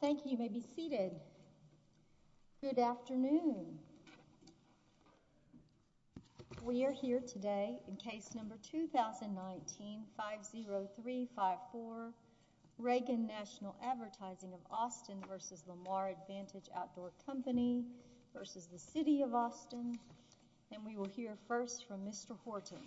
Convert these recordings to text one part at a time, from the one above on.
Thank you, you may be seated. Good afternoon. We are here today in case number 2019-50354 Reagan National Advertising of Austin v. Lamar Advantage Outdoor Company v. the City of Austin. And we will hear first from Mr. Horton.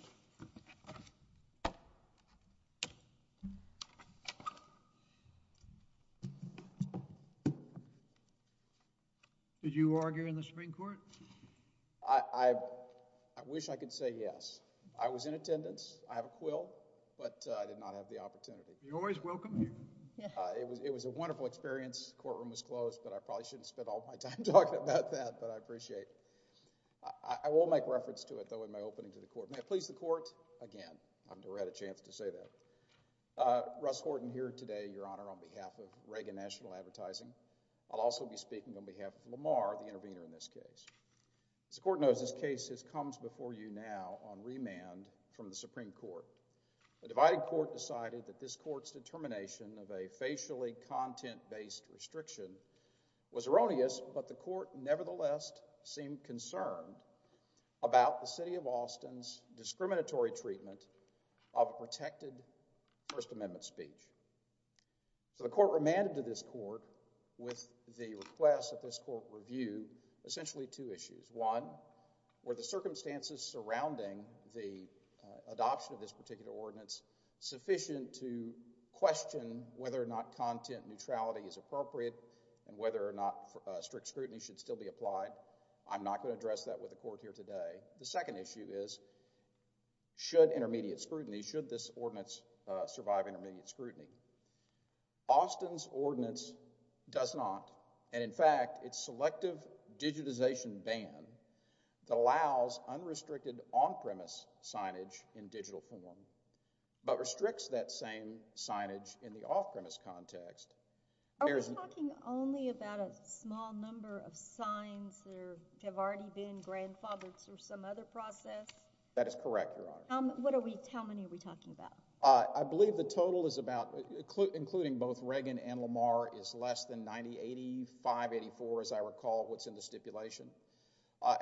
Did you argue in the Supreme Court? I wish I could say yes. I was in attendance. I have a quill, but I did not have the opportunity. You're always welcome here. It was a wonderful experience. Courtroom was closed, but I probably shouldn't spend all my time talking about that, but I will make reference to it, though, in my opening to the Court. May it please the Court, again, I've never had a chance to say that. Russ Horton here today, Your Honor, on behalf of Reagan National Advertising. I'll also be speaking on behalf of Lamar, the intervener in this case. As the Court knows, this case has come before you now on remand from the Supreme Court. The divided Court decided that this Court's determination of a facially content-based restriction was erroneous, but the Court nevertheless seemed concerned about the City of Austin's discriminatory treatment of a protected First Amendment speech. So the Court remanded to this Court with the request that this Court review essentially two issues. One, were the circumstances surrounding the adoption of this particular ordinance sufficient to question whether or not content neutrality is appropriate and whether or not strict scrutiny should still be applied? I'm not going to address that with the Court here today. The second issue is, should intermediate scrutiny, should this ordinance survive intermediate scrutiny? Austin's ordinance does not, and in fact, its selective digitization ban that allows unrestricted on-premise signage in digital form, but restricts that same signage in the off-premise context. Are we talking only about a small number of signs that have already been grandfathered through some other process? That is correct, Your Honor. How many are we talking about? I believe the total is about, including both Reagan and Lamar, is less than 90, 85, 84, as I recall, what's in the stipulation.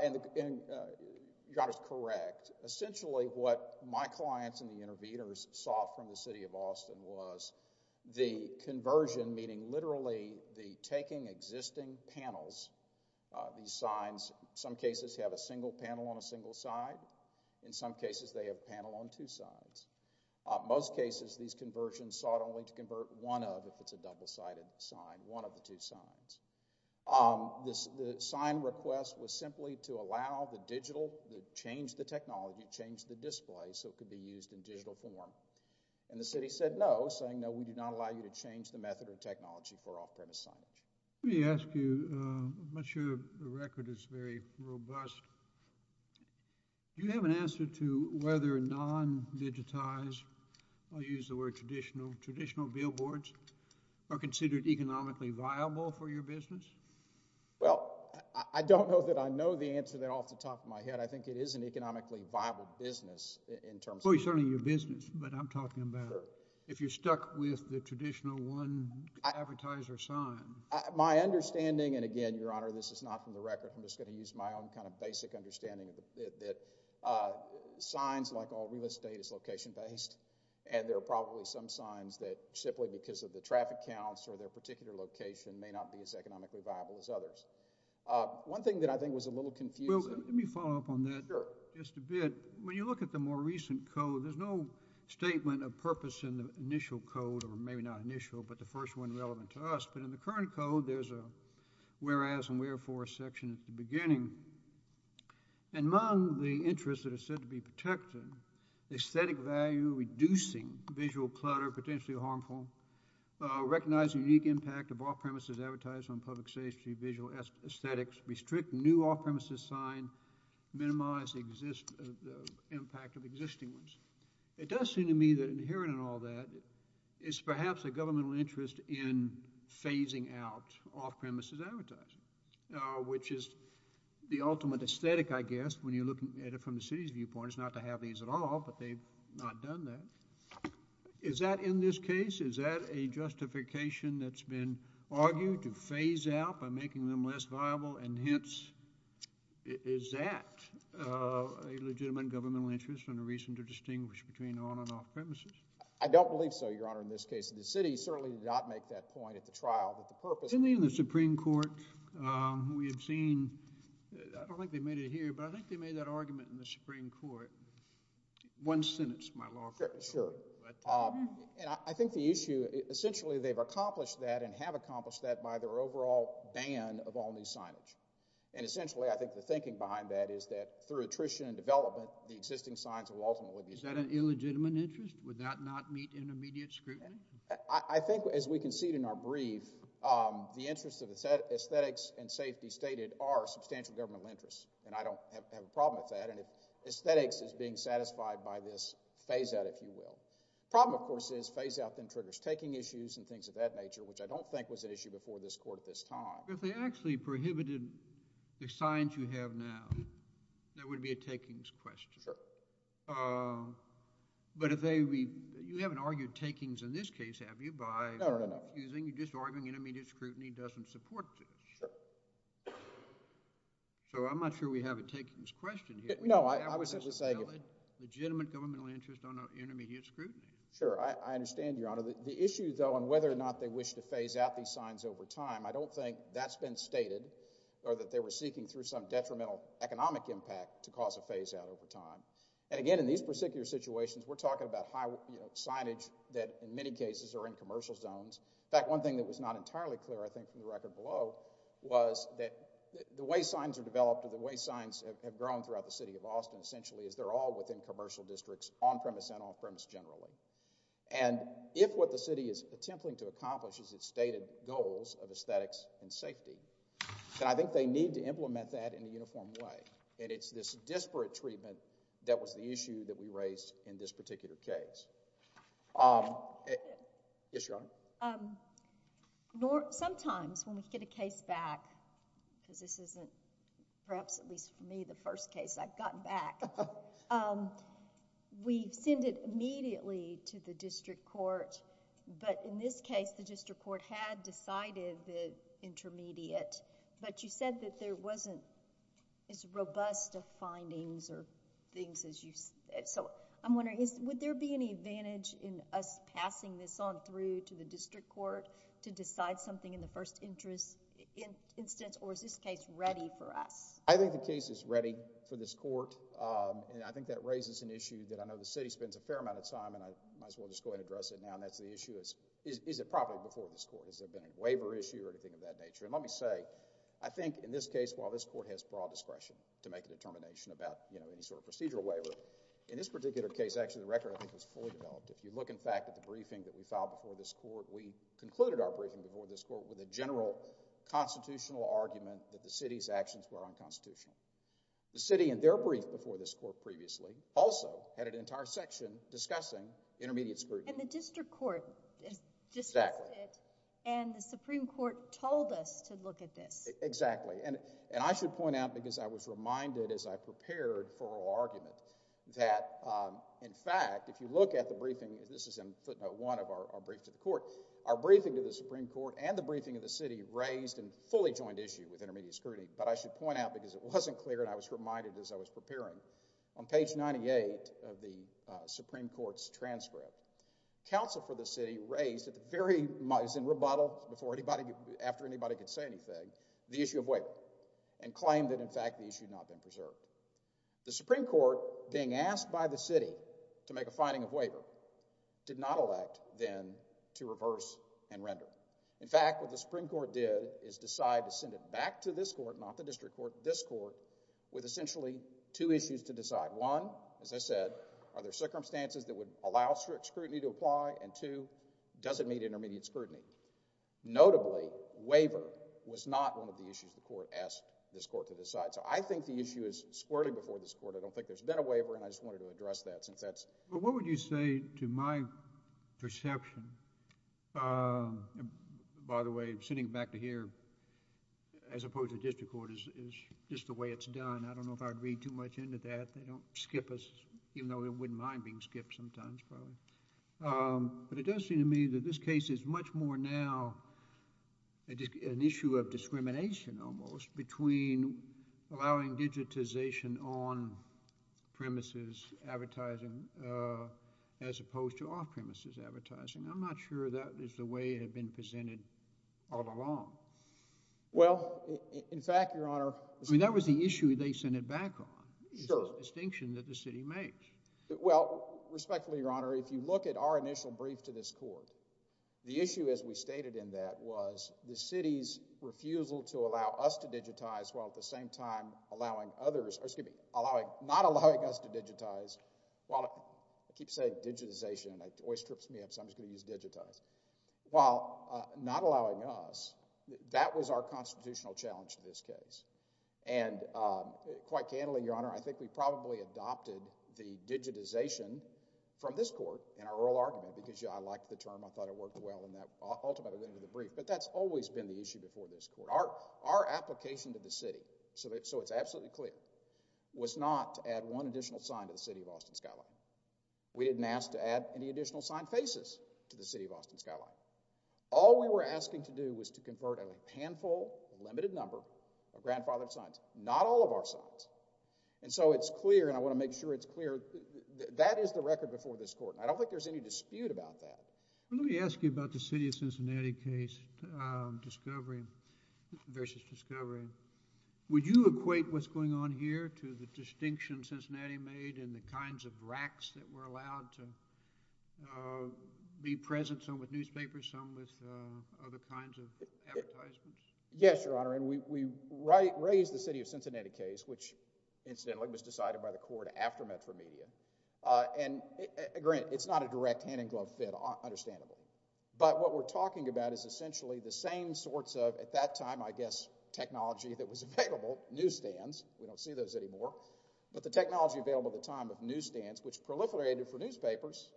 And Your Honor's correct. Essentially, what my clients and the interveners saw from the City of Austin was the conversion, meaning literally the taking existing panels, these signs, some cases have a single panel on a single side. In some cases, they have a panel on two sides. Most cases, these conversions sought only to sign. The sign request was simply to allow the digital, change the technology, change the display so it could be used in digital form. And the City said no, saying no, we do not allow you to change the method or technology for off-premise signage. Let me ask you, I'm not sure the record is very robust. Do you have an answer to whether non-digitized, I'll use the word traditional, traditional billboards are considered economically viable for your business? Well, I don't know that I know the answer there off the top of my head. I think it is an economically viable business in terms of... Well, certainly your business, but I'm talking about if you're stuck with the traditional one advertiser sign. My understanding, and again, Your Honor, this is not from the record. I'm just going to use my own kind of basic understanding that signs, like all signs, that simply because of the traffic counts or their particular location may not be as economically viable as others. One thing that I think was a little confusing... Let me follow up on that just a bit. When you look at the more recent code, there's no statement of purpose in the initial code, or maybe not initial, but the first one relevant to us. But in the current code, there's a whereas and wherefore section at the beginning. Among the interests that are said to protect the aesthetic value, reducing visual clutter, potentially harmful, recognize the unique impact of off-premises advertising on public safety, visual aesthetics, restrict new off-premises signs, minimize the impact of existing ones. It does seem to me that inherent in all that is perhaps a governmental interest in phasing out off-premises advertising, which is the ultimate aesthetic, I guess, when you're looking at it from the city's point of view. It's not to have these at all, but they've not done that. Is that in this case, is that a justification that's been argued to phase out by making them less viable, and hence, is that a legitimate governmental interest and a reason to distinguish between on- and off-premises? I don't believe so, Your Honor, in this case. The city certainly did not make that point at the trial, but the purpose... In the Supreme Court, we have seen... I think the issue, essentially, they've accomplished that and have accomplished that by their overall ban of all new signage, and essentially, I think the thinking behind that is that, through attrition and development, the existing signs will ultimately be... Is that an illegitimate interest? Would that not meet intermediate scrutiny? I think, as we concede in our brief, the interests of aesthetics and safety stated are substantial governmental interests, and I don't have a problem with that. Aesthetics is being satisfied by this phase-out, if you will. Problem, of course, is phase-out then triggers taking issues and things of that nature, which I don't think was an issue before this Court at this time. If they actually prohibited the signs you have now, that would be a takings question. Sure. But if they... You haven't argued takings in this case, have you, by... No, Your Honor.... using... just arguing intermediate scrutiny doesn't support this. Sure. So, I'm not sure we have a takings question here. No, I was simply saying...... legitimate governmental interest on intermediate scrutiny. Sure. I understand, Your Honor. The issue, though, on whether or not they wish to phase out these signs over time, I don't think that's been stated, or that they were seeking through some detrimental economic impact to cause a phase-out over time. And again, in these particular situations, we're talking about signage that, in many cases, are in commercial zones. In fact, one thing that was not entirely clear, I think, from the record below, was that the way signs are developed or the way signs have grown throughout the City of Austin, essentially, is they're all within commercial districts, on-premise and off-premise generally. And if what the City is attempting to accomplish is its stated goals of aesthetics and safety, then I think they need to implement that in a uniform way. And it's this disparate treatment that was the issue that we raised in this particular case. Yes, Your Honor. Sometimes, when we get a case back, because this isn't, perhaps at least for me, the first case I've gotten back, we send it immediately to the district court. But in this case, the district court had decided the intermediate, but you said that there wasn't as robust of findings or things as you... I'm wondering, would there be any advantage in us passing this on through to the district court to decide something in the first instance, or is this case ready for us? I think the case is ready for this court, and I think that raises an issue that I know the City spends a fair amount of time, and I might as well just go ahead and address it now, and that's the issue is, is it properly before this court? Has there been a waiver issue or anything of that nature? And let me say, I think in this case, while this court has broad discretion to make a determination about, you know, any sort of procedural waiver, in this particular case, actually, the record, I think, was fully developed. If you look, in fact, at the briefing that we filed before this court, we concluded our briefing before this court with a general constitutional argument that the City's actions were unconstitutional. The City, in their brief before this court previously, also had an entire section discussing intermediate scrutiny. And the district court discussed it, and the Supreme Court told us to look at this. Exactly. And I should point out, because I was reminded as I prepared for our argument, that, in fact, if you look at the briefing, this is in footnote one of our brief to the court, our briefing to the Supreme Court and the briefing of the City raised a fully joined issue with intermediate scrutiny. But I should point out, because it wasn't clear, and I was reminded as I was preparing, on page 98 of the Supreme Court's transcript, counsel for the City raised at the very, it was in rebuttal, before anybody, after anybody could say anything, the issue of waiver, and claimed that, in fact, the The Supreme Court, being asked by the City to make a finding of waiver, did not elect, then, to reverse and render. In fact, what the Supreme Court did is decide to send it back to this court, not the district court, this court, with essentially two issues to decide. One, as I said, are there circumstances that would allow strict scrutiny to apply? And two, does it meet intermediate scrutiny? Notably, waiver was not one of the issues the court asked this court to decide. So I think the issue is squirrelly before this court. I don't think there's been a waiver, and I just wanted to address that, since that's But what would you say, to my perception, by the way, sending it back to here, as opposed to the district court, is just the way it's done. I don't know if I'd read too much into that. They don't skip us, even though they wouldn't mind being skipped sometimes, probably. But it does seem to me that this case is much more now an issue of discrimination, almost, between allowing digitization on-premises advertising, as opposed to off-premises advertising. I'm not sure that is the way it had been presented all along. Well, in fact, Your Honor— I mean, that was the issue they sent it back on. Sure. It's a distinction that the city makes. Well, respectfully, Your Honor, if you look at our initial brief to this court, the issue, as we stated in that, was the city's refusal to allow us to digitize, while at the same time allowing others—or, excuse me, not allowing us to digitize, while—I keep saying digitization, and it always trips me up, so I'm just going to use digitize—while not allowing us, that was our constitutional challenge to this case. And quite candidly, Your Honor, I think we probably adopted the digitization from this argument, because I liked the term. I thought it worked well in that ultimatum at the end of the brief. But that's always been the issue before this court. Our application to the city, so it's absolutely clear, was not to add one additional sign to the City of Austin skyline. We didn't ask to add any additional sign faces to the City of Austin skyline. All we were asking to do was to convert a handful, a limited number, of grandfathered signs, not all of our signs. And so it's clear, and I want to make sure it's clear, that is the record before this court. I don't think there's any dispute about that. Let me ask you about the City of Cincinnati case, discovery versus discovery. Would you equate what's going on here to the distinction Cincinnati made in the kinds of racks that were allowed to be present, some with newspapers, some with other kinds of advertisements? Yes, Your Honor, and we raised the City of Cincinnati case, which is not a direct hand-in-glove fit, understandable. But what we're talking about is essentially the same sorts of, at that time, I guess, technology that was available, newsstands, we don't see those anymore, but the technology available at the time of newsstands, which proliferated for newspapers,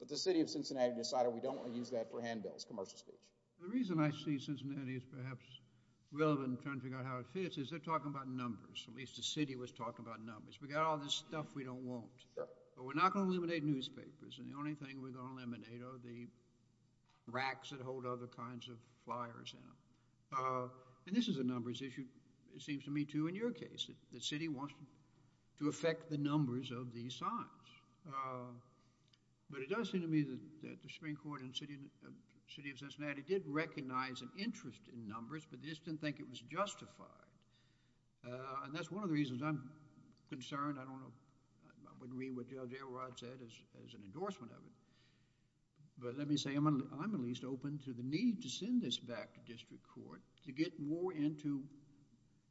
but the City of Cincinnati decided we don't want to use that for handbills, commercial speech. The reason I see Cincinnati as perhaps relevant in trying to figure out how it fits is they're talking about numbers, at least the city was talking about numbers. We got all this stuff we don't want, but we're not going to eliminate newspapers, and the only thing we're going to eliminate are the racks that hold other kinds of flyers in them. And this is a numbers issue, it seems to me, too, in your case, that the city wants to affect the numbers of these signs. But it does seem to me that the Supreme Court in the City of Cincinnati did recognize an interest in numbers, but they just didn't think it was justified. And that's one of the reasons I'm concerned. I don't know, I wouldn't read what Judge Elrod said as an endorsement of it, but let me say I'm at least open to the need to send this back to district court to get more into,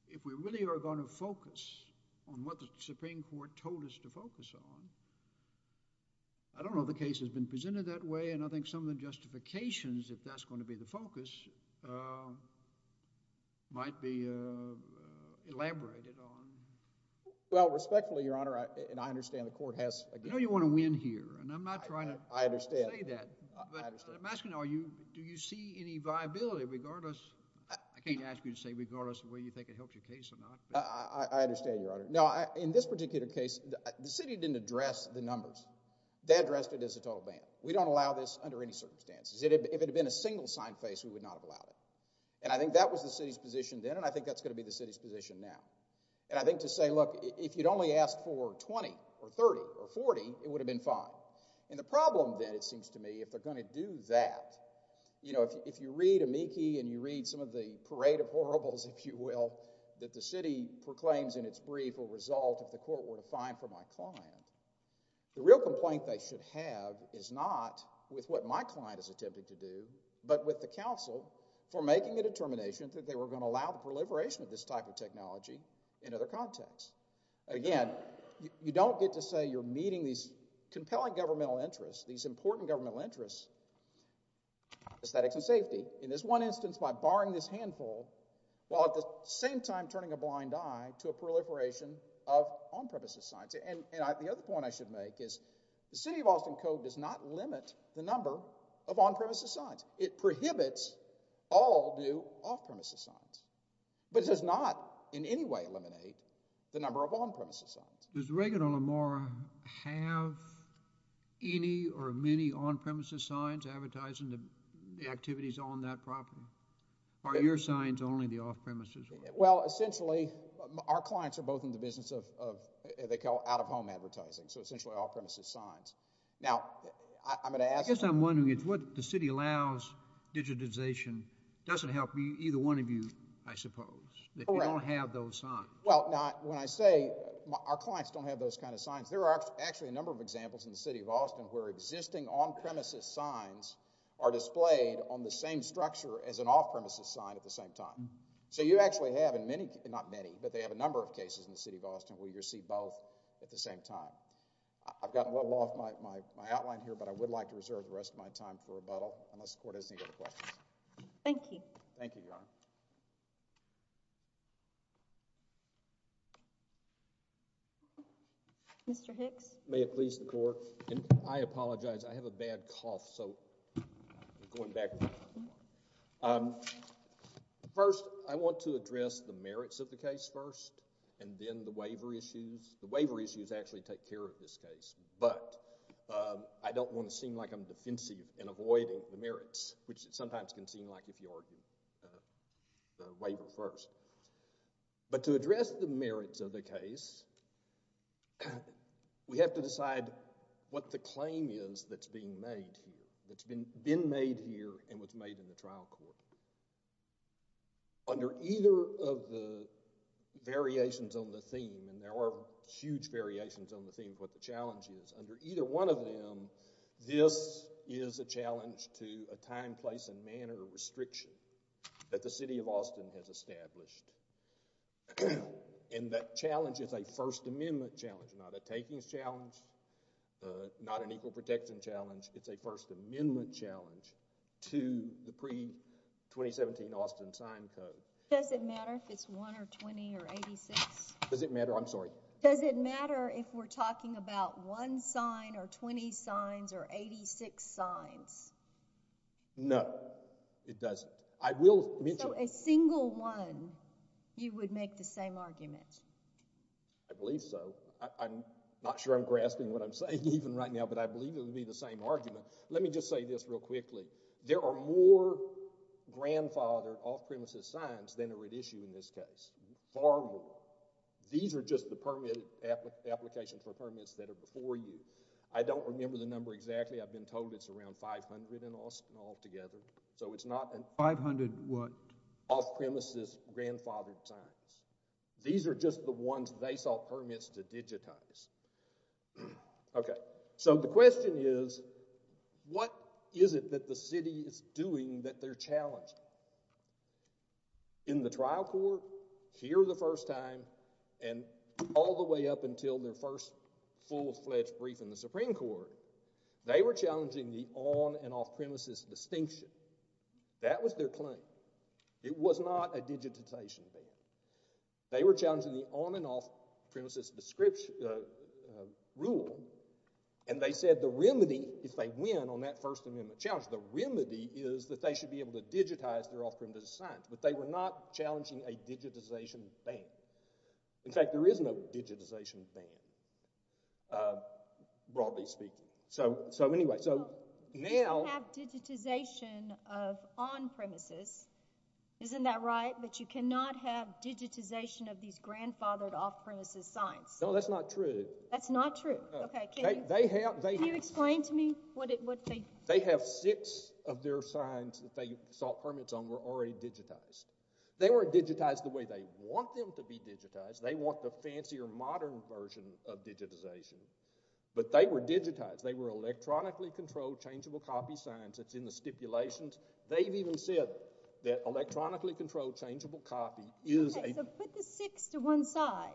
if we really are going to focus on what the Supreme Court told us to focus on. I don't know the case has been presented that way, and I think some of the justifications, if that's going to be the focus, might be elaborated on. Well, respectfully, Your Honor, and I understand the court has... I know you want to win here, and I'm not trying to say that, but I'm asking, do you see any viability regardless, I can't ask you to say regardless of whether you think it helps your case or not. I understand, Your Honor. Now, in this particular case, the city didn't address the numbers. They addressed it as a total ban. We don't allow this under any circumstances. If it had been a single sign face, we would not have allowed it. And I think that was the city's position then, and I think that's going to be the city's position now. And I think to say, look, if you'd only asked for 20 or 30 or 40, it would have been fine. And the problem then, it seems to me, if they're going to do that, you know, if you read amici and you read some of the parade of horribles, if you will, that the city proclaims in its brief will result if the court were to fine for my client, the real complaint they should have is not with what my client is attempting to do, but with the counsel for making a determination that they were going to allow the proliferation of this type of technology in other contexts. Again, you don't get to say you're meeting these compelling governmental interests, these important governmental interests, aesthetics and safety, in this one instance, by barring this handful while at the same time turning a blind eye to a proliferation of on-premises signs. And the other point I should make is the City of Austin Code does not limit the number of on-premises signs. It prohibits all new off-premises signs, but it does not in any way eliminate the number of on-premises signs. Does Regan or Lamora have any or many on-premises signs advertising the activities on that property? Are your signs only the off-premises ones? Well, essentially, our clients are both in the business of out-of-home advertising, so essentially off-premises signs. Now, I'm going to ask— what the City allows digitization doesn't help either one of you, I suppose, if you don't have those signs. Well, now, when I say our clients don't have those kind of signs, there are actually a number of examples in the City of Austin where existing on-premises signs are displayed on the same structure as an off-premises sign at the same time. So you actually have in many—not many, but they have a number of cases in the City of Austin where you see both at the same time. I've gotten a little off my outline here, but I would like to reserve the rest of my time for rebuttal unless the Court has any other questions. Thank you. Thank you, Your Honor. Mr. Hicks? May it please the Court? I apologize. I have a bad cough, so I'm going backwards. First, I want to address the merits of the case first and then the waiver issues. The merits of the case, I'm not a lawyer, I'm not a lawyer of this case, but I don't want to seem like I'm defensive in avoiding the merits, which it sometimes can seem like if you argue the waiver first. But to address the merits of the case, we have to decide what the claim is that's being made here, that's been made here and was made in the Under either one of them, this is a challenge to a time, place, and manner restriction that the City of Austin has established. And that challenge is a First Amendment challenge, not a takings challenge, not an equal protection challenge. It's a First Amendment challenge to the pre-2017 Austin sign code. Does it matter if it's 1 or 20 or 86? Does it matter? I'm sorry? Does it matter if we're talking about 1 sign or 20 signs or 86 signs? No, it doesn't. I will mention— So a single one, you would make the same argument? I believe so. I'm not sure I'm grasping what I'm saying even right now, but I believe it would be the same argument. Let me just say this real quickly. There are more grandfathered, off-premises signs than are at issue in this case. Far more. These are just the applications for permits that are before you. I don't remember the number exactly. I've been told it's around 500 in Austin altogether, so it's not an off-premises, grandfathered sign. These are just the ones they sought permits to digitize. Okay, so the question is, what is it that the City is doing that they're challenging? In the trial court, here the first time, and all the way up until their first full-fledged brief in the Supreme Court, they were challenging the on- and off-premises distinction. That was their claim. It was not a digitization thing. They were challenging the on- and off-premises rule, and they said the remedy, if they win on that First Amendment challenge, the remedy is that they should be able to digitize their off-premises signs, but they were not challenging a digitization thing. In fact, there is no digitization thing, broadly speaking. So anyway, so now— You can have digitization of on-premises. Isn't that right? But you cannot have digitization of these grandfathered off-premises signs. No, that's not true. That's not true. Okay, can you— They have— Can you explain to me what they— They have six of their signs that they sought permits on were already digitized. They weren't digitized the way they want them to be digitized. They want the fancier, modern version of digitization, but they were digitized. They were electronically controlled, changeable copy signs. It's in the stipulations. They've even said that electronically controlled, changeable copy is a— Okay, so put the six to one side.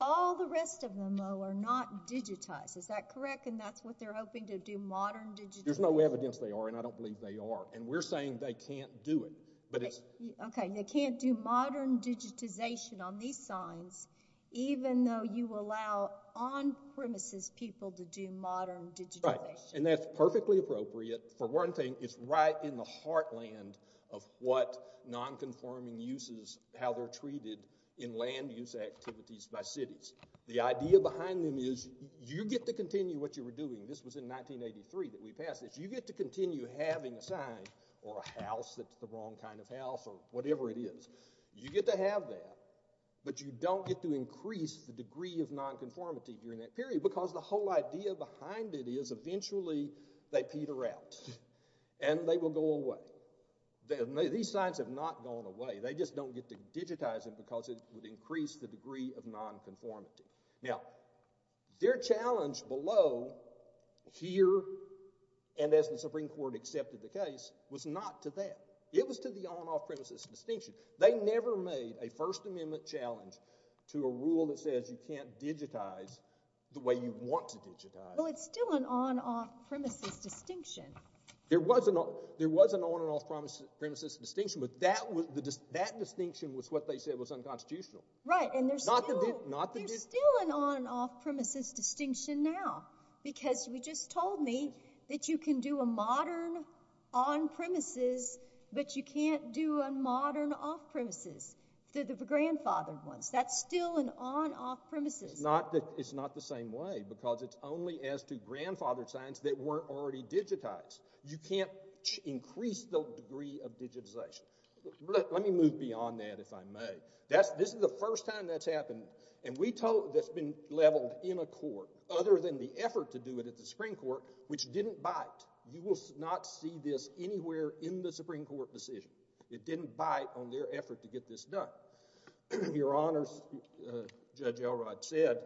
All the rest of them, though, are not digitized. Is that correct? And that's what they're hoping to do, modern digitization? There's no evidence they are, and I don't believe they are. And we're saying they can't do it, but it's— Okay, they can't do modern digitization on these signs, even though you allow on-premises people to do modern digitization. Right, and that's perfectly appropriate. For one thing, it's right in the heartland of what non-conforming uses, how they're treated in land-use activities by cities. The idea behind them is you get to continue what you were doing. This was in 1983 that we passed this. You get to continue having a sign or a house that's the wrong kind of house or whatever it is. You get to have that, but you don't get to increase the degree of non-conformity during that period because the whole idea behind it is eventually they peter out and they will go away. These signs have not gone away. They just don't get to digitize them because it would increase the degree of non-conformity. Now, their challenge below, here, and as the Supreme Court accepted the case, was not to that. It was to the on-off-premises distinction. They never made a First Amendment challenge to a rule that says you can't digitize the way you want to digitize. Well, it's still an on-off-premises distinction. There was an on-off-premises distinction, but that distinction was what they said was unconstitutional. Right, and there's still an on-off-premises distinction now because we just told me that you can do a modern on-premises, but you can't do a modern off-premises. The grandfathered ones, that's still an on-off-premises. It's not the same way because it's only as to grandfathered signs that weren't already digitized. You can't increase the degree of digitization. Let me move beyond that, if I may. This is the first time that's happened, and we told, that's been leveled in a court, other than the effort to do it at the Supreme Court, which didn't bite. You will not see this anywhere in the Supreme Court decision. It didn't bite on their effort to get this done. Your Honors, Judge Elrod said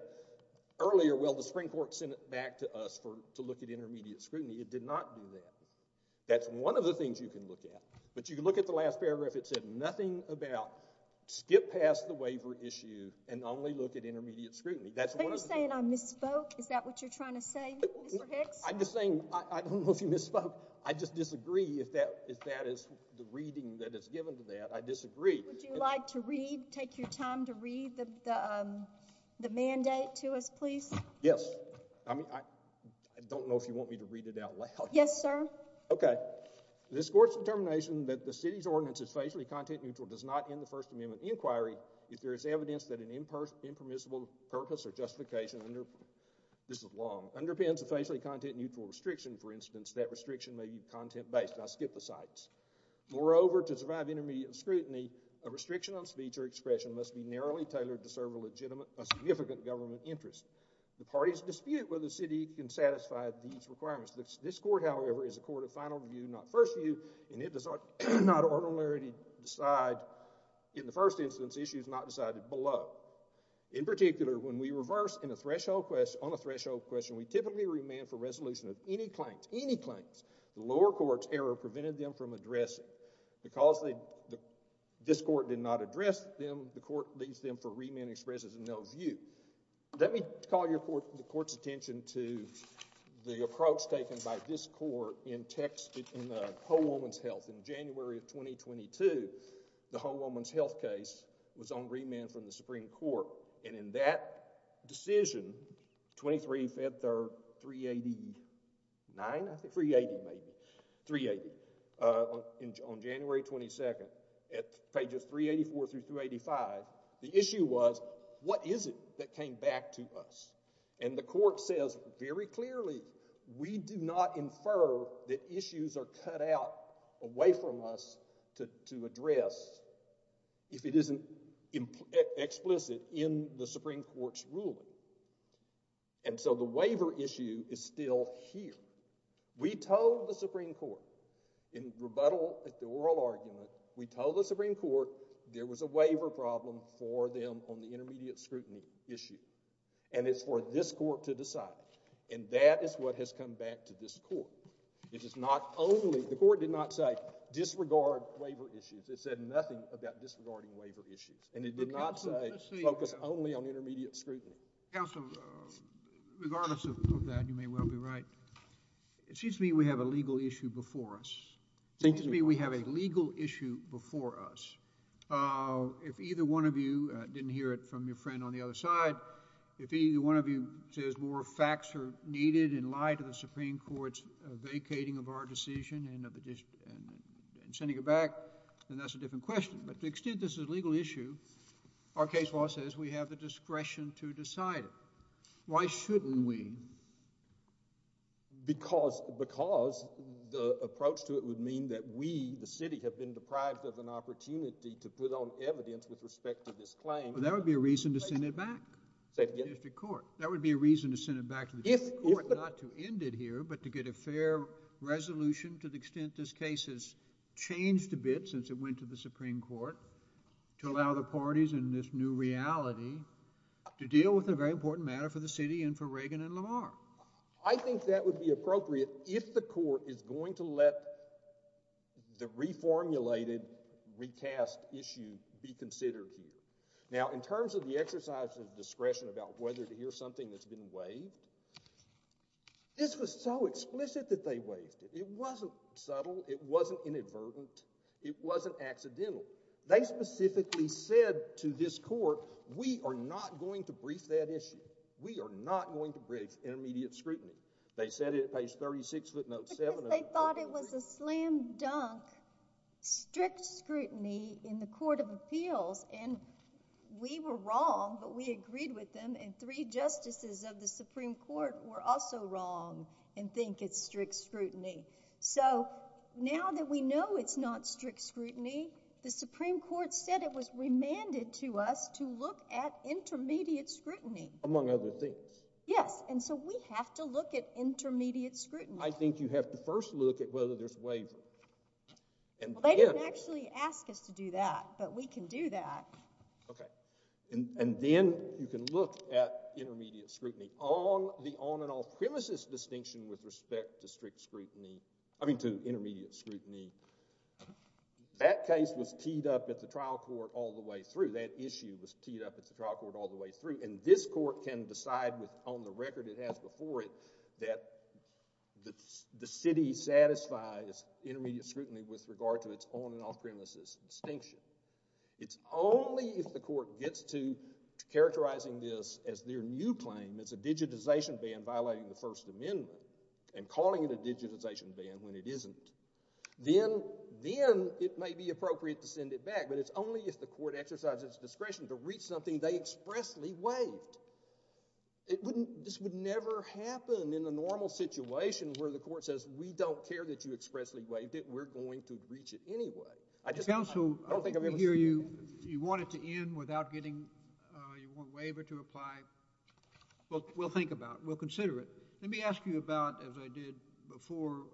earlier, well, the Supreme Court sent it back to us for, to look at intermediate scrutiny. It did not do that. That's one of the things you can look at, but you can look at the last paragraph. It said nothing about skip past the waiver issue and only look at intermediate scrutiny. But you're saying I misspoke? Is that what you're trying to say, Mr. Hicks? I'm just saying, I don't know if you misspoke. I just disagree if that is the reading that is given to that. I disagree. Would you like to read, take your time to read the mandate to us, please? Yes. I mean, I don't know if you want me to read it out loud. Yes, sir. Okay. This court's determination that the city's ordinance is facially content-neutral does not end the First Amendment inquiry if there is evidence that an impermissible purpose or justification under, this is long, underpins a facially content-neutral restriction, for instance, that restriction may be content-based. I'll skip the cites. Moreover, to survive intermediate scrutiny, a restriction on speech or expression must be narrowly tailored to serve a legitimate, a significant government interest. The parties dispute whether the city can satisfy these requirements. This court, however, is a court of final view, not first view, and it does not ordinarily decide, in the first instance, issues not decided below. In particular, when we reverse on a threshold question, we typically remand for resolution of any claims, any claims. The lower court's error prevented them from addressing. Because this court did not address them, the court leaves them for remand and expresses no view. Let me call your court, the court's attention to the approach taken by this court in text, in the Hohelman's Health. In January of 2022, the Hohelman's Health case was on remand from the Supreme Court, and in that decision, 23 February 389, I think, 380 maybe, 380, on January 22nd, at pages 384 through 385, the issue was, what is it that came back to us? And the court says very clearly, we do not infer that issues are cut out away from us to address if it isn't explicit in the Supreme Court's ruling. And so the waiver issue is still here. We told the Supreme Court, in rebuttal at the oral argument, we told the Supreme Court there was a waiver problem for them on the intermediate scrutiny issue, and it's for this court to decide. And that is what has come back to this court. It is not only, the court did not say disregard waiver issues. It said nothing about disregarding intermediate scrutiny. Counsel, regardless of that, you may well be right. It seems to me we have a legal issue before us. It seems to me we have a legal issue before us. If either one of you didn't hear it from your friend on the other side, if either one of you says more facts are needed in light of the Supreme Court's vacating of our decision and sending it back, then that's a different question. But to the extent this is a legal issue, our case law says we have the discretion to decide it. Why shouldn't we? Because the approach to it would mean that we, the city, have been deprived of an opportunity to put on evidence with respect to this claim. Well, that would be a reason to send it back to the district court. That would be a reason to send it back to the district court, not to end it here, but to get a fair resolution to the extent this case has changed a bit since it went to the reality to deal with a very important matter for the city and for Reagan and Lamar. I think that would be appropriate if the court is going to let the reformulated recast issue be considered here. Now, in terms of the exercise of discretion about whether to hear something that's been waived, this was so explicit that they waived it. It wasn't subtle. It wasn't inadvertent. It wasn't accidental. They specifically said to this court, we are not going to brief that issue. We are not going to brief intermediate scrutiny. They said it at page 36, footnote 7. Because they thought it was a slam dunk, strict scrutiny in the Court of Appeals, and we were wrong, but we agreed with them, and three justices of the Supreme Court were also wrong and think it's strict scrutiny. So now that we know it's not strict scrutiny, the Supreme Court said it was remanded to us to look at intermediate scrutiny. Among other things. Yes, and so we have to look at intermediate scrutiny. I think you have to first look at whether there's waiver. Well, they didn't actually ask us to do that, but we can do that. Okay, and then you can look at intermediate scrutiny on an off-premises distinction with respect to strict scrutiny, I mean to intermediate scrutiny. That case was teed up at the trial court all the way through. That issue was teed up at the trial court all the way through, and this court can decide on the record it has before it that the city satisfies intermediate scrutiny with regard to its on and off-premises distinction. It's only if the court gets to characterizing this as their new claim, as a digitization ban violating the First Amendment, and calling it a digitization ban when it isn't, then it may be appropriate to send it back, but it's only if the court exercises its discretion to reach something they expressly waived. This would never happen in a normal situation where the court says we don't care that you expressly waived it, we're going to reach it anyway. I don't think I'm able to hear you. You want it to end without getting, you want waiver to apply? Well, we'll think about it. We'll consider it. Let me ask you about, as I did before,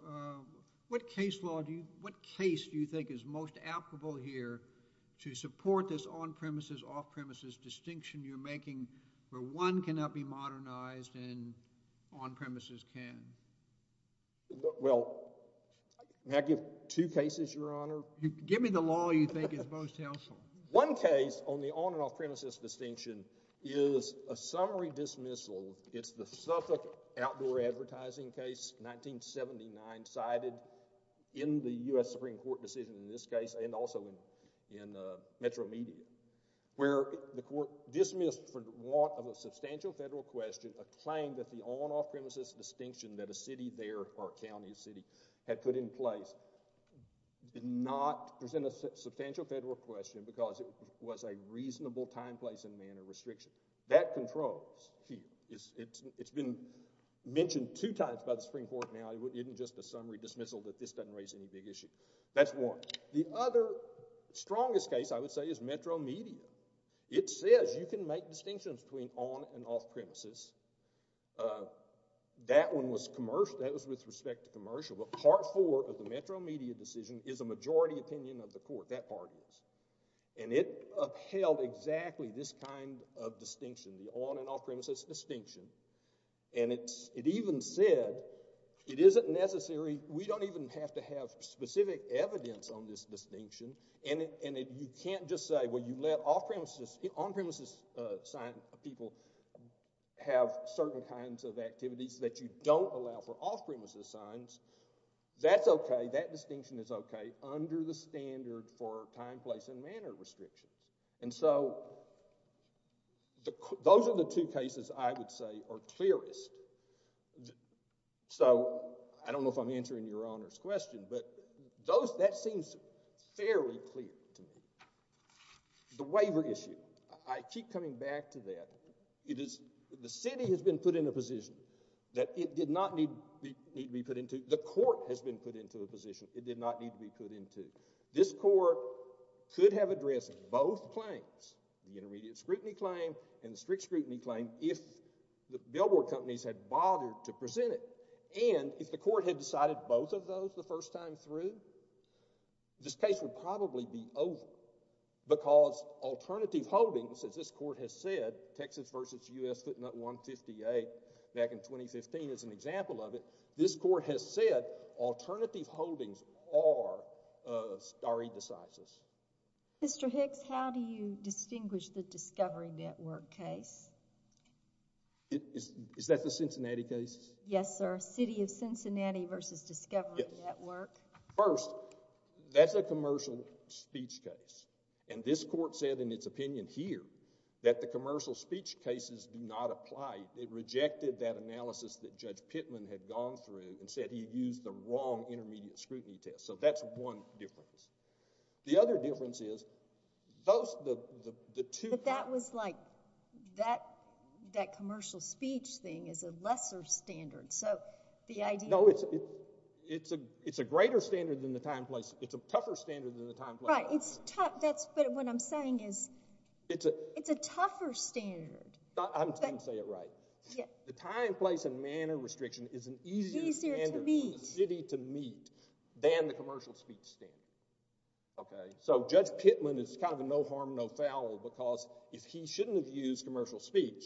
what case law do you, what case do you think is most applicable here to support this on-premises, off-premises distinction you're making where one cannot be modernized and on-premises can? Well, I give two cases, Your Honor. Give me the law you think is most helpful. One case on the on and off-premises distinction is a summary dismissal. It's the Suffolk outdoor advertising case, 1979, cited in the U.S. Supreme Court decision in this case and also in Metro Media, where the court dismissed for want of a substantial federal question a claim that the on-off-premises distinction that city there or county or city had put in place did not present a substantial federal question because it was a reasonable time, place, and manner restriction. That controls here. It's been mentioned two times by the Supreme Court now. It isn't just a summary dismissal that this doesn't raise any big issue. That's warranted. The other strongest case, I would say, is Metro Media. It says you can make distinctions between on and off-premises. That one was commercial. That was with respect to commercial, but part four of the Metro Media decision is a majority opinion of the court. That part is, and it upheld exactly this kind of distinction, the on and off-premises distinction, and it even said it isn't necessary. We don't even have to have specific evidence on this distinction, and you can't just say, you let on-premises sign people have certain kinds of activities that you don't allow for off-premises signs. That's okay. That distinction is okay under the standard for time, place, and manner restrictions. Those are the two cases I would say are clearest. I don't know if I'm answering Your Honor's question, but that seems fairly clear to me. The waiver issue, I keep coming back to that. The city has been put in a position that it did not need to be put into. The court has been put into a position it did not need to be put into. This court could have addressed both claims, the intermediate scrutiny claim and the strict scrutiny claim, if the billboard companies had bothered to present it, and if the court had decided both of those the first time through, this case would probably be over because alternative holdings, as this court has said, Texas v. U.S. Footnote 158 back in 2015 is an example of it, this court has said alternative holdings are indecisive. Mr. Hicks, how do you distinguish the Discovery Network case? Is that the Cincinnati case? Yes, sir. City of Cincinnati v. Discovery Network. First, that's a commercial speech case, and this court said in its opinion here that the commercial speech cases do not apply. It rejected that analysis that Judge Pittman had gone through and said he used the wrong intermediate scrutiny test, so that's one difference. The other difference is those, the two... That was like, that commercial speech thing is a lesser standard, so the idea... No, it's a greater standard than the time, place, it's a tougher standard than the time, place... Right, it's tough, but what I'm saying is, it's a tougher standard. I'm saying it right. The time, place and manner restriction is an easier standard for the city to meet than the commercial speech standard, okay? So Judge Pittman is kind of a no harm, no foul because if he shouldn't have used commercial speech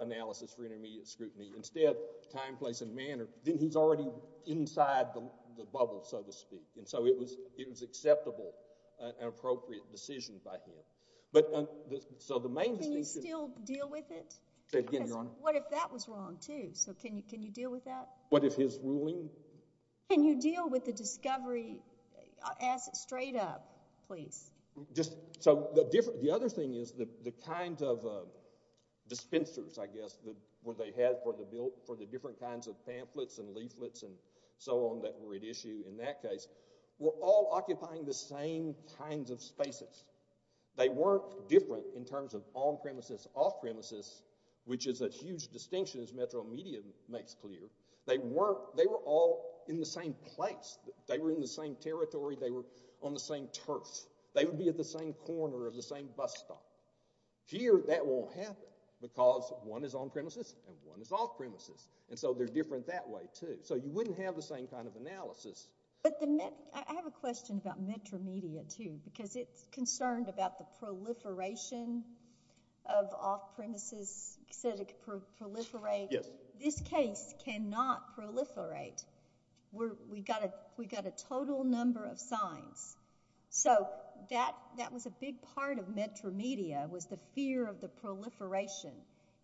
analysis for intermediate scrutiny, instead time, place and manner, then he's already inside the bubble, so to speak, and so it was acceptable, an appropriate decision by him. But, so the main... Can you still deal with it? Say it again, Your Honor. What if that was wrong, too? So can you deal with that? What if his ruling... Can you deal with the Discovery, ask straight up, please? So the other thing is, the kind of dispensers, I guess, that they had for the different kinds of pamphlets and leaflets and so on that were at issue in that case, were all occupying the same kinds of spaces. They weren't different in terms of on-premises, off-premises, which is a huge distinction, as Metro Media makes clear. They were all in the same place. They were in the same territory. They were on the same turf. They would be at the same corner of the same bus stop. Here, that won't happen because one is on-premises and one is off-premises and so they're different that way, too. So you wouldn't have the same kind of analysis. But the... I have a question about Metro Media, too, because it's concerned about the proliferation of off-premises. You said it could proliferate. Yes. This case cannot proliferate. We got a total number of signs. So that was a big part of Metro Media was the fear of the proliferation.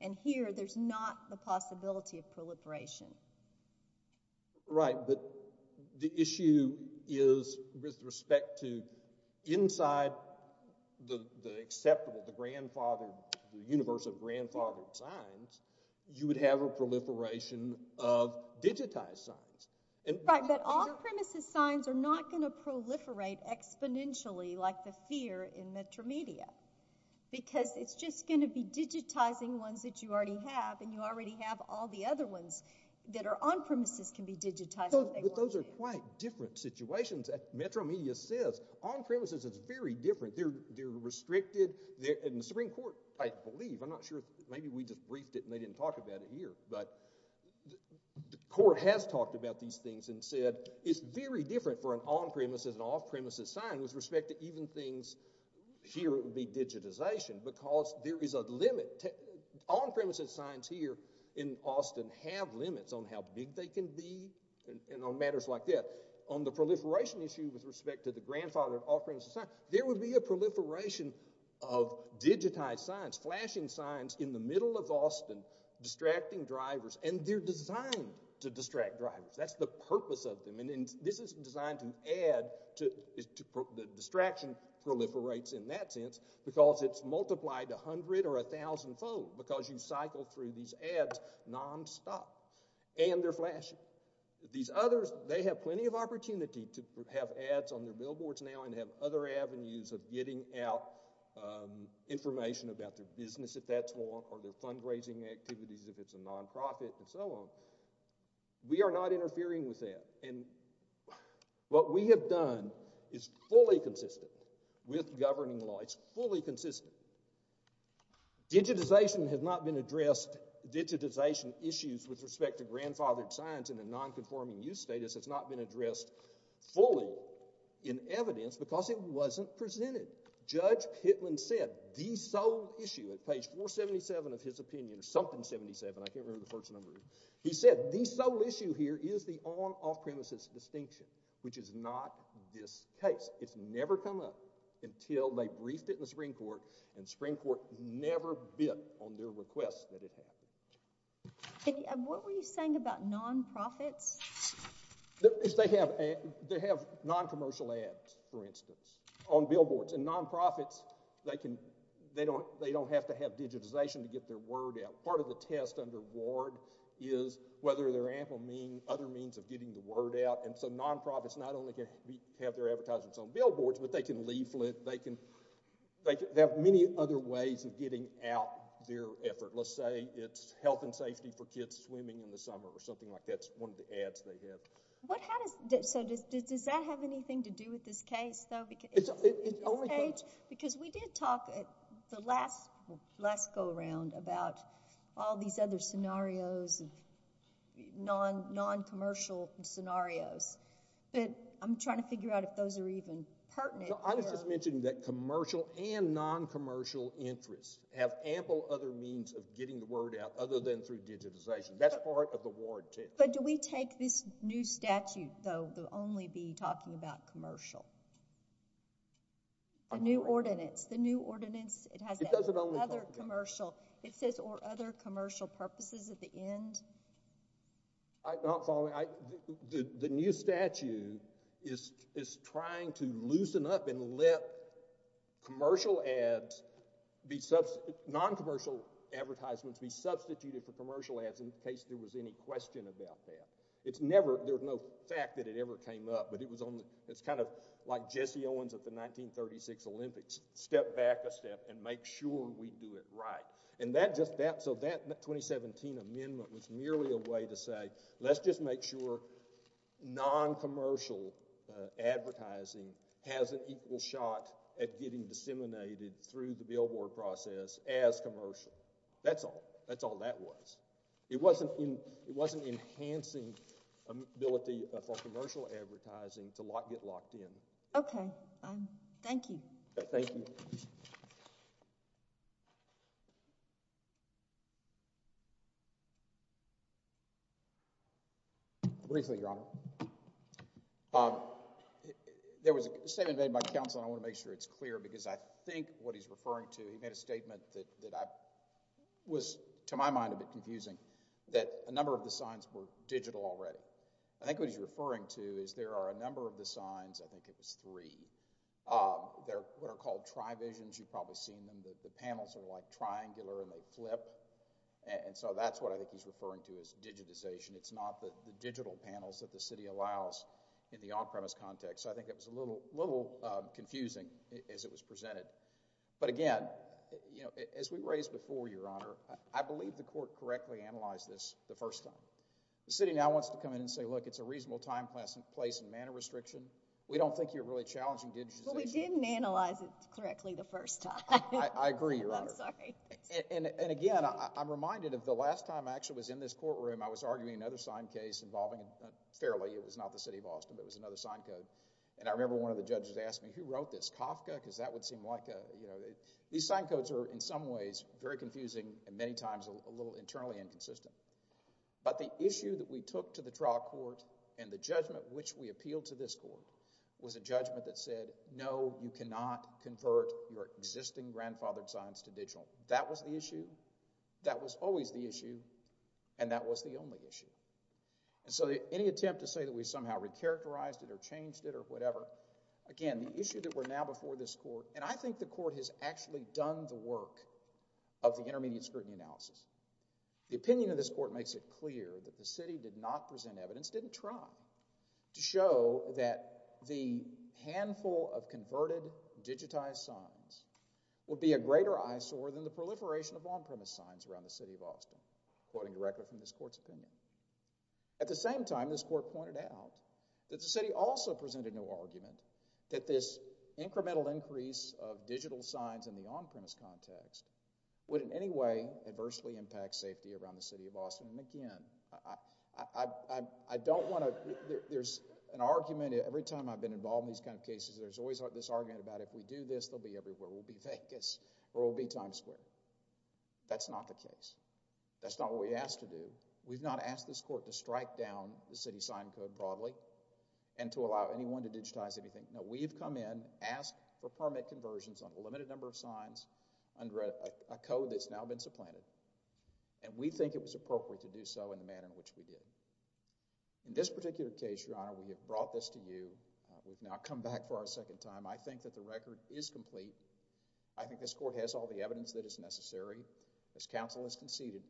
And here, there's not the possibility of proliferation. Right, but the issue is with respect to inside the acceptable, the grandfathered, universe of grandfathered signs, you would have a proliferation of digitized signs. Right, but off-premises signs are not going to proliferate exponentially like the fear in Metro Media because it's just going to be digitizing ones that you already have and you already have all the other ones that are on-premises can be digitized. Those are quite different situations. Metro Media says on-premises, it's very different. They're restricted. In the Supreme Court, I believe, I'm not sure, maybe we just briefed it and they didn't talk about it here, but the court has talked about these things and said it's very different for an on-premises and off-premises sign with respect to even things here it would be digitization because there is a limit. On-premises signs here in Austin have limits on how big they can be and on matters like that. On the proliferation issue with respect to the grandfathered off-premises signs, there would be a proliferation of digitized signs, flashing signs in the middle of Austin distracting drivers and they're designed to distract drivers. That's the purpose of them and this is designed to add to the distraction proliferates in that sense because it's multiplied a hundred or a thousand fold because you cycle through these ads non-stop and they're flashing. These others, they have plenty of opportunity to have ads on their billboards now and have other avenues of getting out information about their business if that's one or their fundraising activities if it's a non-profit and so on. We are not interfering with that and what we have done is fully consistent with governing law. It's fully consistent. Digitization has not been addressed, digitization issues with respect to grandfathered signs in a non-conforming use status has not been addressed fully in evidence because it wasn't presented. Judge Pitlin said the sole issue at page 477 of his opinion or something 77. I can't remember the first number. He said the sole issue here is the on-off-premises distinction which is not this case. It's never come up until they briefed it in the Supreme Court and the Supreme Court never bit on their request that it happen. What were you saying about non-profits? They have non-commercial ads for instance on billboards and non-profits they don't have to have digitization to get their word out. Part of the test under Ward is whether there are ample other means of getting the word out and so non-profits not only can have their advertisements on billboards but they can leaflet, they can have many other ways of getting out their effort. Let's say it's health and safety for kids swimming in the summer or something like that's one of the ads they have. So does that have anything to do with this case though? Because we did talk at the last go-around about all these other scenarios and non-commercial scenarios but I'm trying to figure out if those are even pertinent. I was just mentioning that commercial and non-commercial interests have ample other means of getting the word out other than through digitization. That's part of the Ward test. But do we take this new statute though to only be talking about commercial? The new ordinance, the new ordinance it has other commercial it says or other commercial purposes at the end. I'm not following. The new statute is trying to loosen up and let commercial ads be substituted, non-commercial advertisements be substituted for commercial ads in case there was any question about that. It's never, there's no fact that it ever came up but it was on the it's kind of like Jesse Owens at the 1936 Olympics. Step back a step and make sure we do it right. So that 2017 amendment was merely a way to say let's just make sure non-commercial advertising has an equal shot at getting disseminated through the billboard process as commercial. That's all. That's all that was. It wasn't enhancing ability for commercial advertising to lock get locked in. Okay, thank you. Thank you. Briefly, Your Honor. There was a statement made by counsel and I want to make sure it's clear because I think what he's referring to he made a statement that that I was to my mind a bit confusing that a number of the signs were digital already. I think what he's referring to is there are a number of the signs. I think it was three. They're what are called tri-visions. You've probably seen them. The panels are like triangular and they flip and so that's what I think he's referring to is digitization. It's not the digital panels that the city allows in the on-premise context. So I think it was a little little confusing as it was presented but again you know as we raised before, Your Honor, I believe the court correctly analyzed this the first time. The city now wants to come in and say look it's a reasonable time, place, and manner restriction. We don't think you're really challenging digitization. But we didn't analyze it correctly the first time. I agree, Your Honor. I'm sorry. And again I'm reminded of the last time I actually was in this courtroom I was arguing another signed case involving fairly it was not the city of Austin but it was another sign code and I remember one of the judges asked me who wrote this Kafka because that would seem like a you know these sign codes are in some ways very confusing and many times a little internally inconsistent. But the issue that we took to the trial court and the judgment which we appealed to this court was a judgment that said no you cannot convert your existing grandfathered signs to digital. That was the issue. That was always the issue and that was the only issue. And so any attempt to say that we somehow recharacterized it or changed it or whatever again the issue that we're now before this court and I think the court has actually done the work of the intermediate scrutiny analysis. The opinion of this court makes it clear that the city did not present evidence didn't try to show that the handful of converted digitized signs would be a greater eyesore than the proliferation of on-premise signs around the city of Austin according to record from this court's opinion. At the same time this court pointed out that the city also presented no argument that this incremental increase of digital signs in the on-premise context would in any way adversely impact safety around the city of Austin. And again I don't want to there's an argument every time I've been involved in these kind of cases there's always this argument about if we do this they'll be everywhere. We'll be Vegas or we'll be Times Square. That's not the case. That's not what we asked to do. We've not asked this court to strike down the city sign code broadly and to allow anyone to digitize anything. No we've come in asked for permit conversions on a limited number of signs under a code that's now been supplanted and we think it was appropriate to do so in the manner in which we did. In this particular case your honor we have brought this to you. We've now come back for our second time. I think that the record is complete. I think this court has all the evidence that is necessary. As counsel has conceded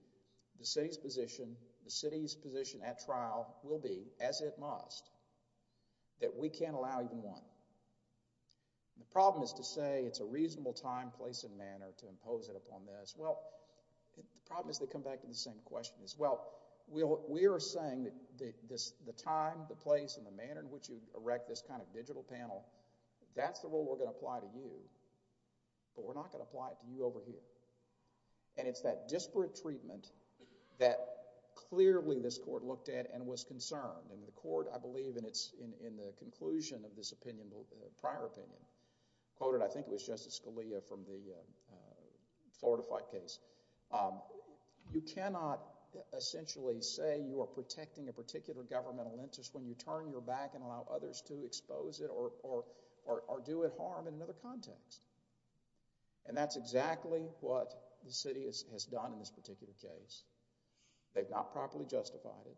the city's position the city's position is more than one. The problem is to say it's a reasonable time, place and manner to impose it upon this. Well the problem is they come back to the same question as well. We are saying that the time, the place and the manner in which you erect this kind of digital panel that's the rule we're going to apply to you but we're not going to apply it to you over here. And it's that disparate treatment that clearly this court looked at and was concerned and the conclusion of this opinion prior opinion quoted I think it was Justice Scalia from the Florida fight case. You cannot essentially say you are protecting a particular governmental interest when you turn your back and allow others to expose it or do it harm in another context and that's exactly what the city has done in this particular case. They've not properly justified it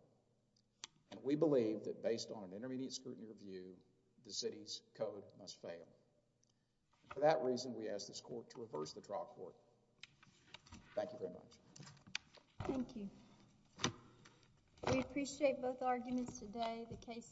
and we believe that based on an intermediate scrutiny review the city's code must fail. For that reason we ask this court to reverse the trial court. Thank you very much. Thank you. We appreciate both arguments today. The case is submitted.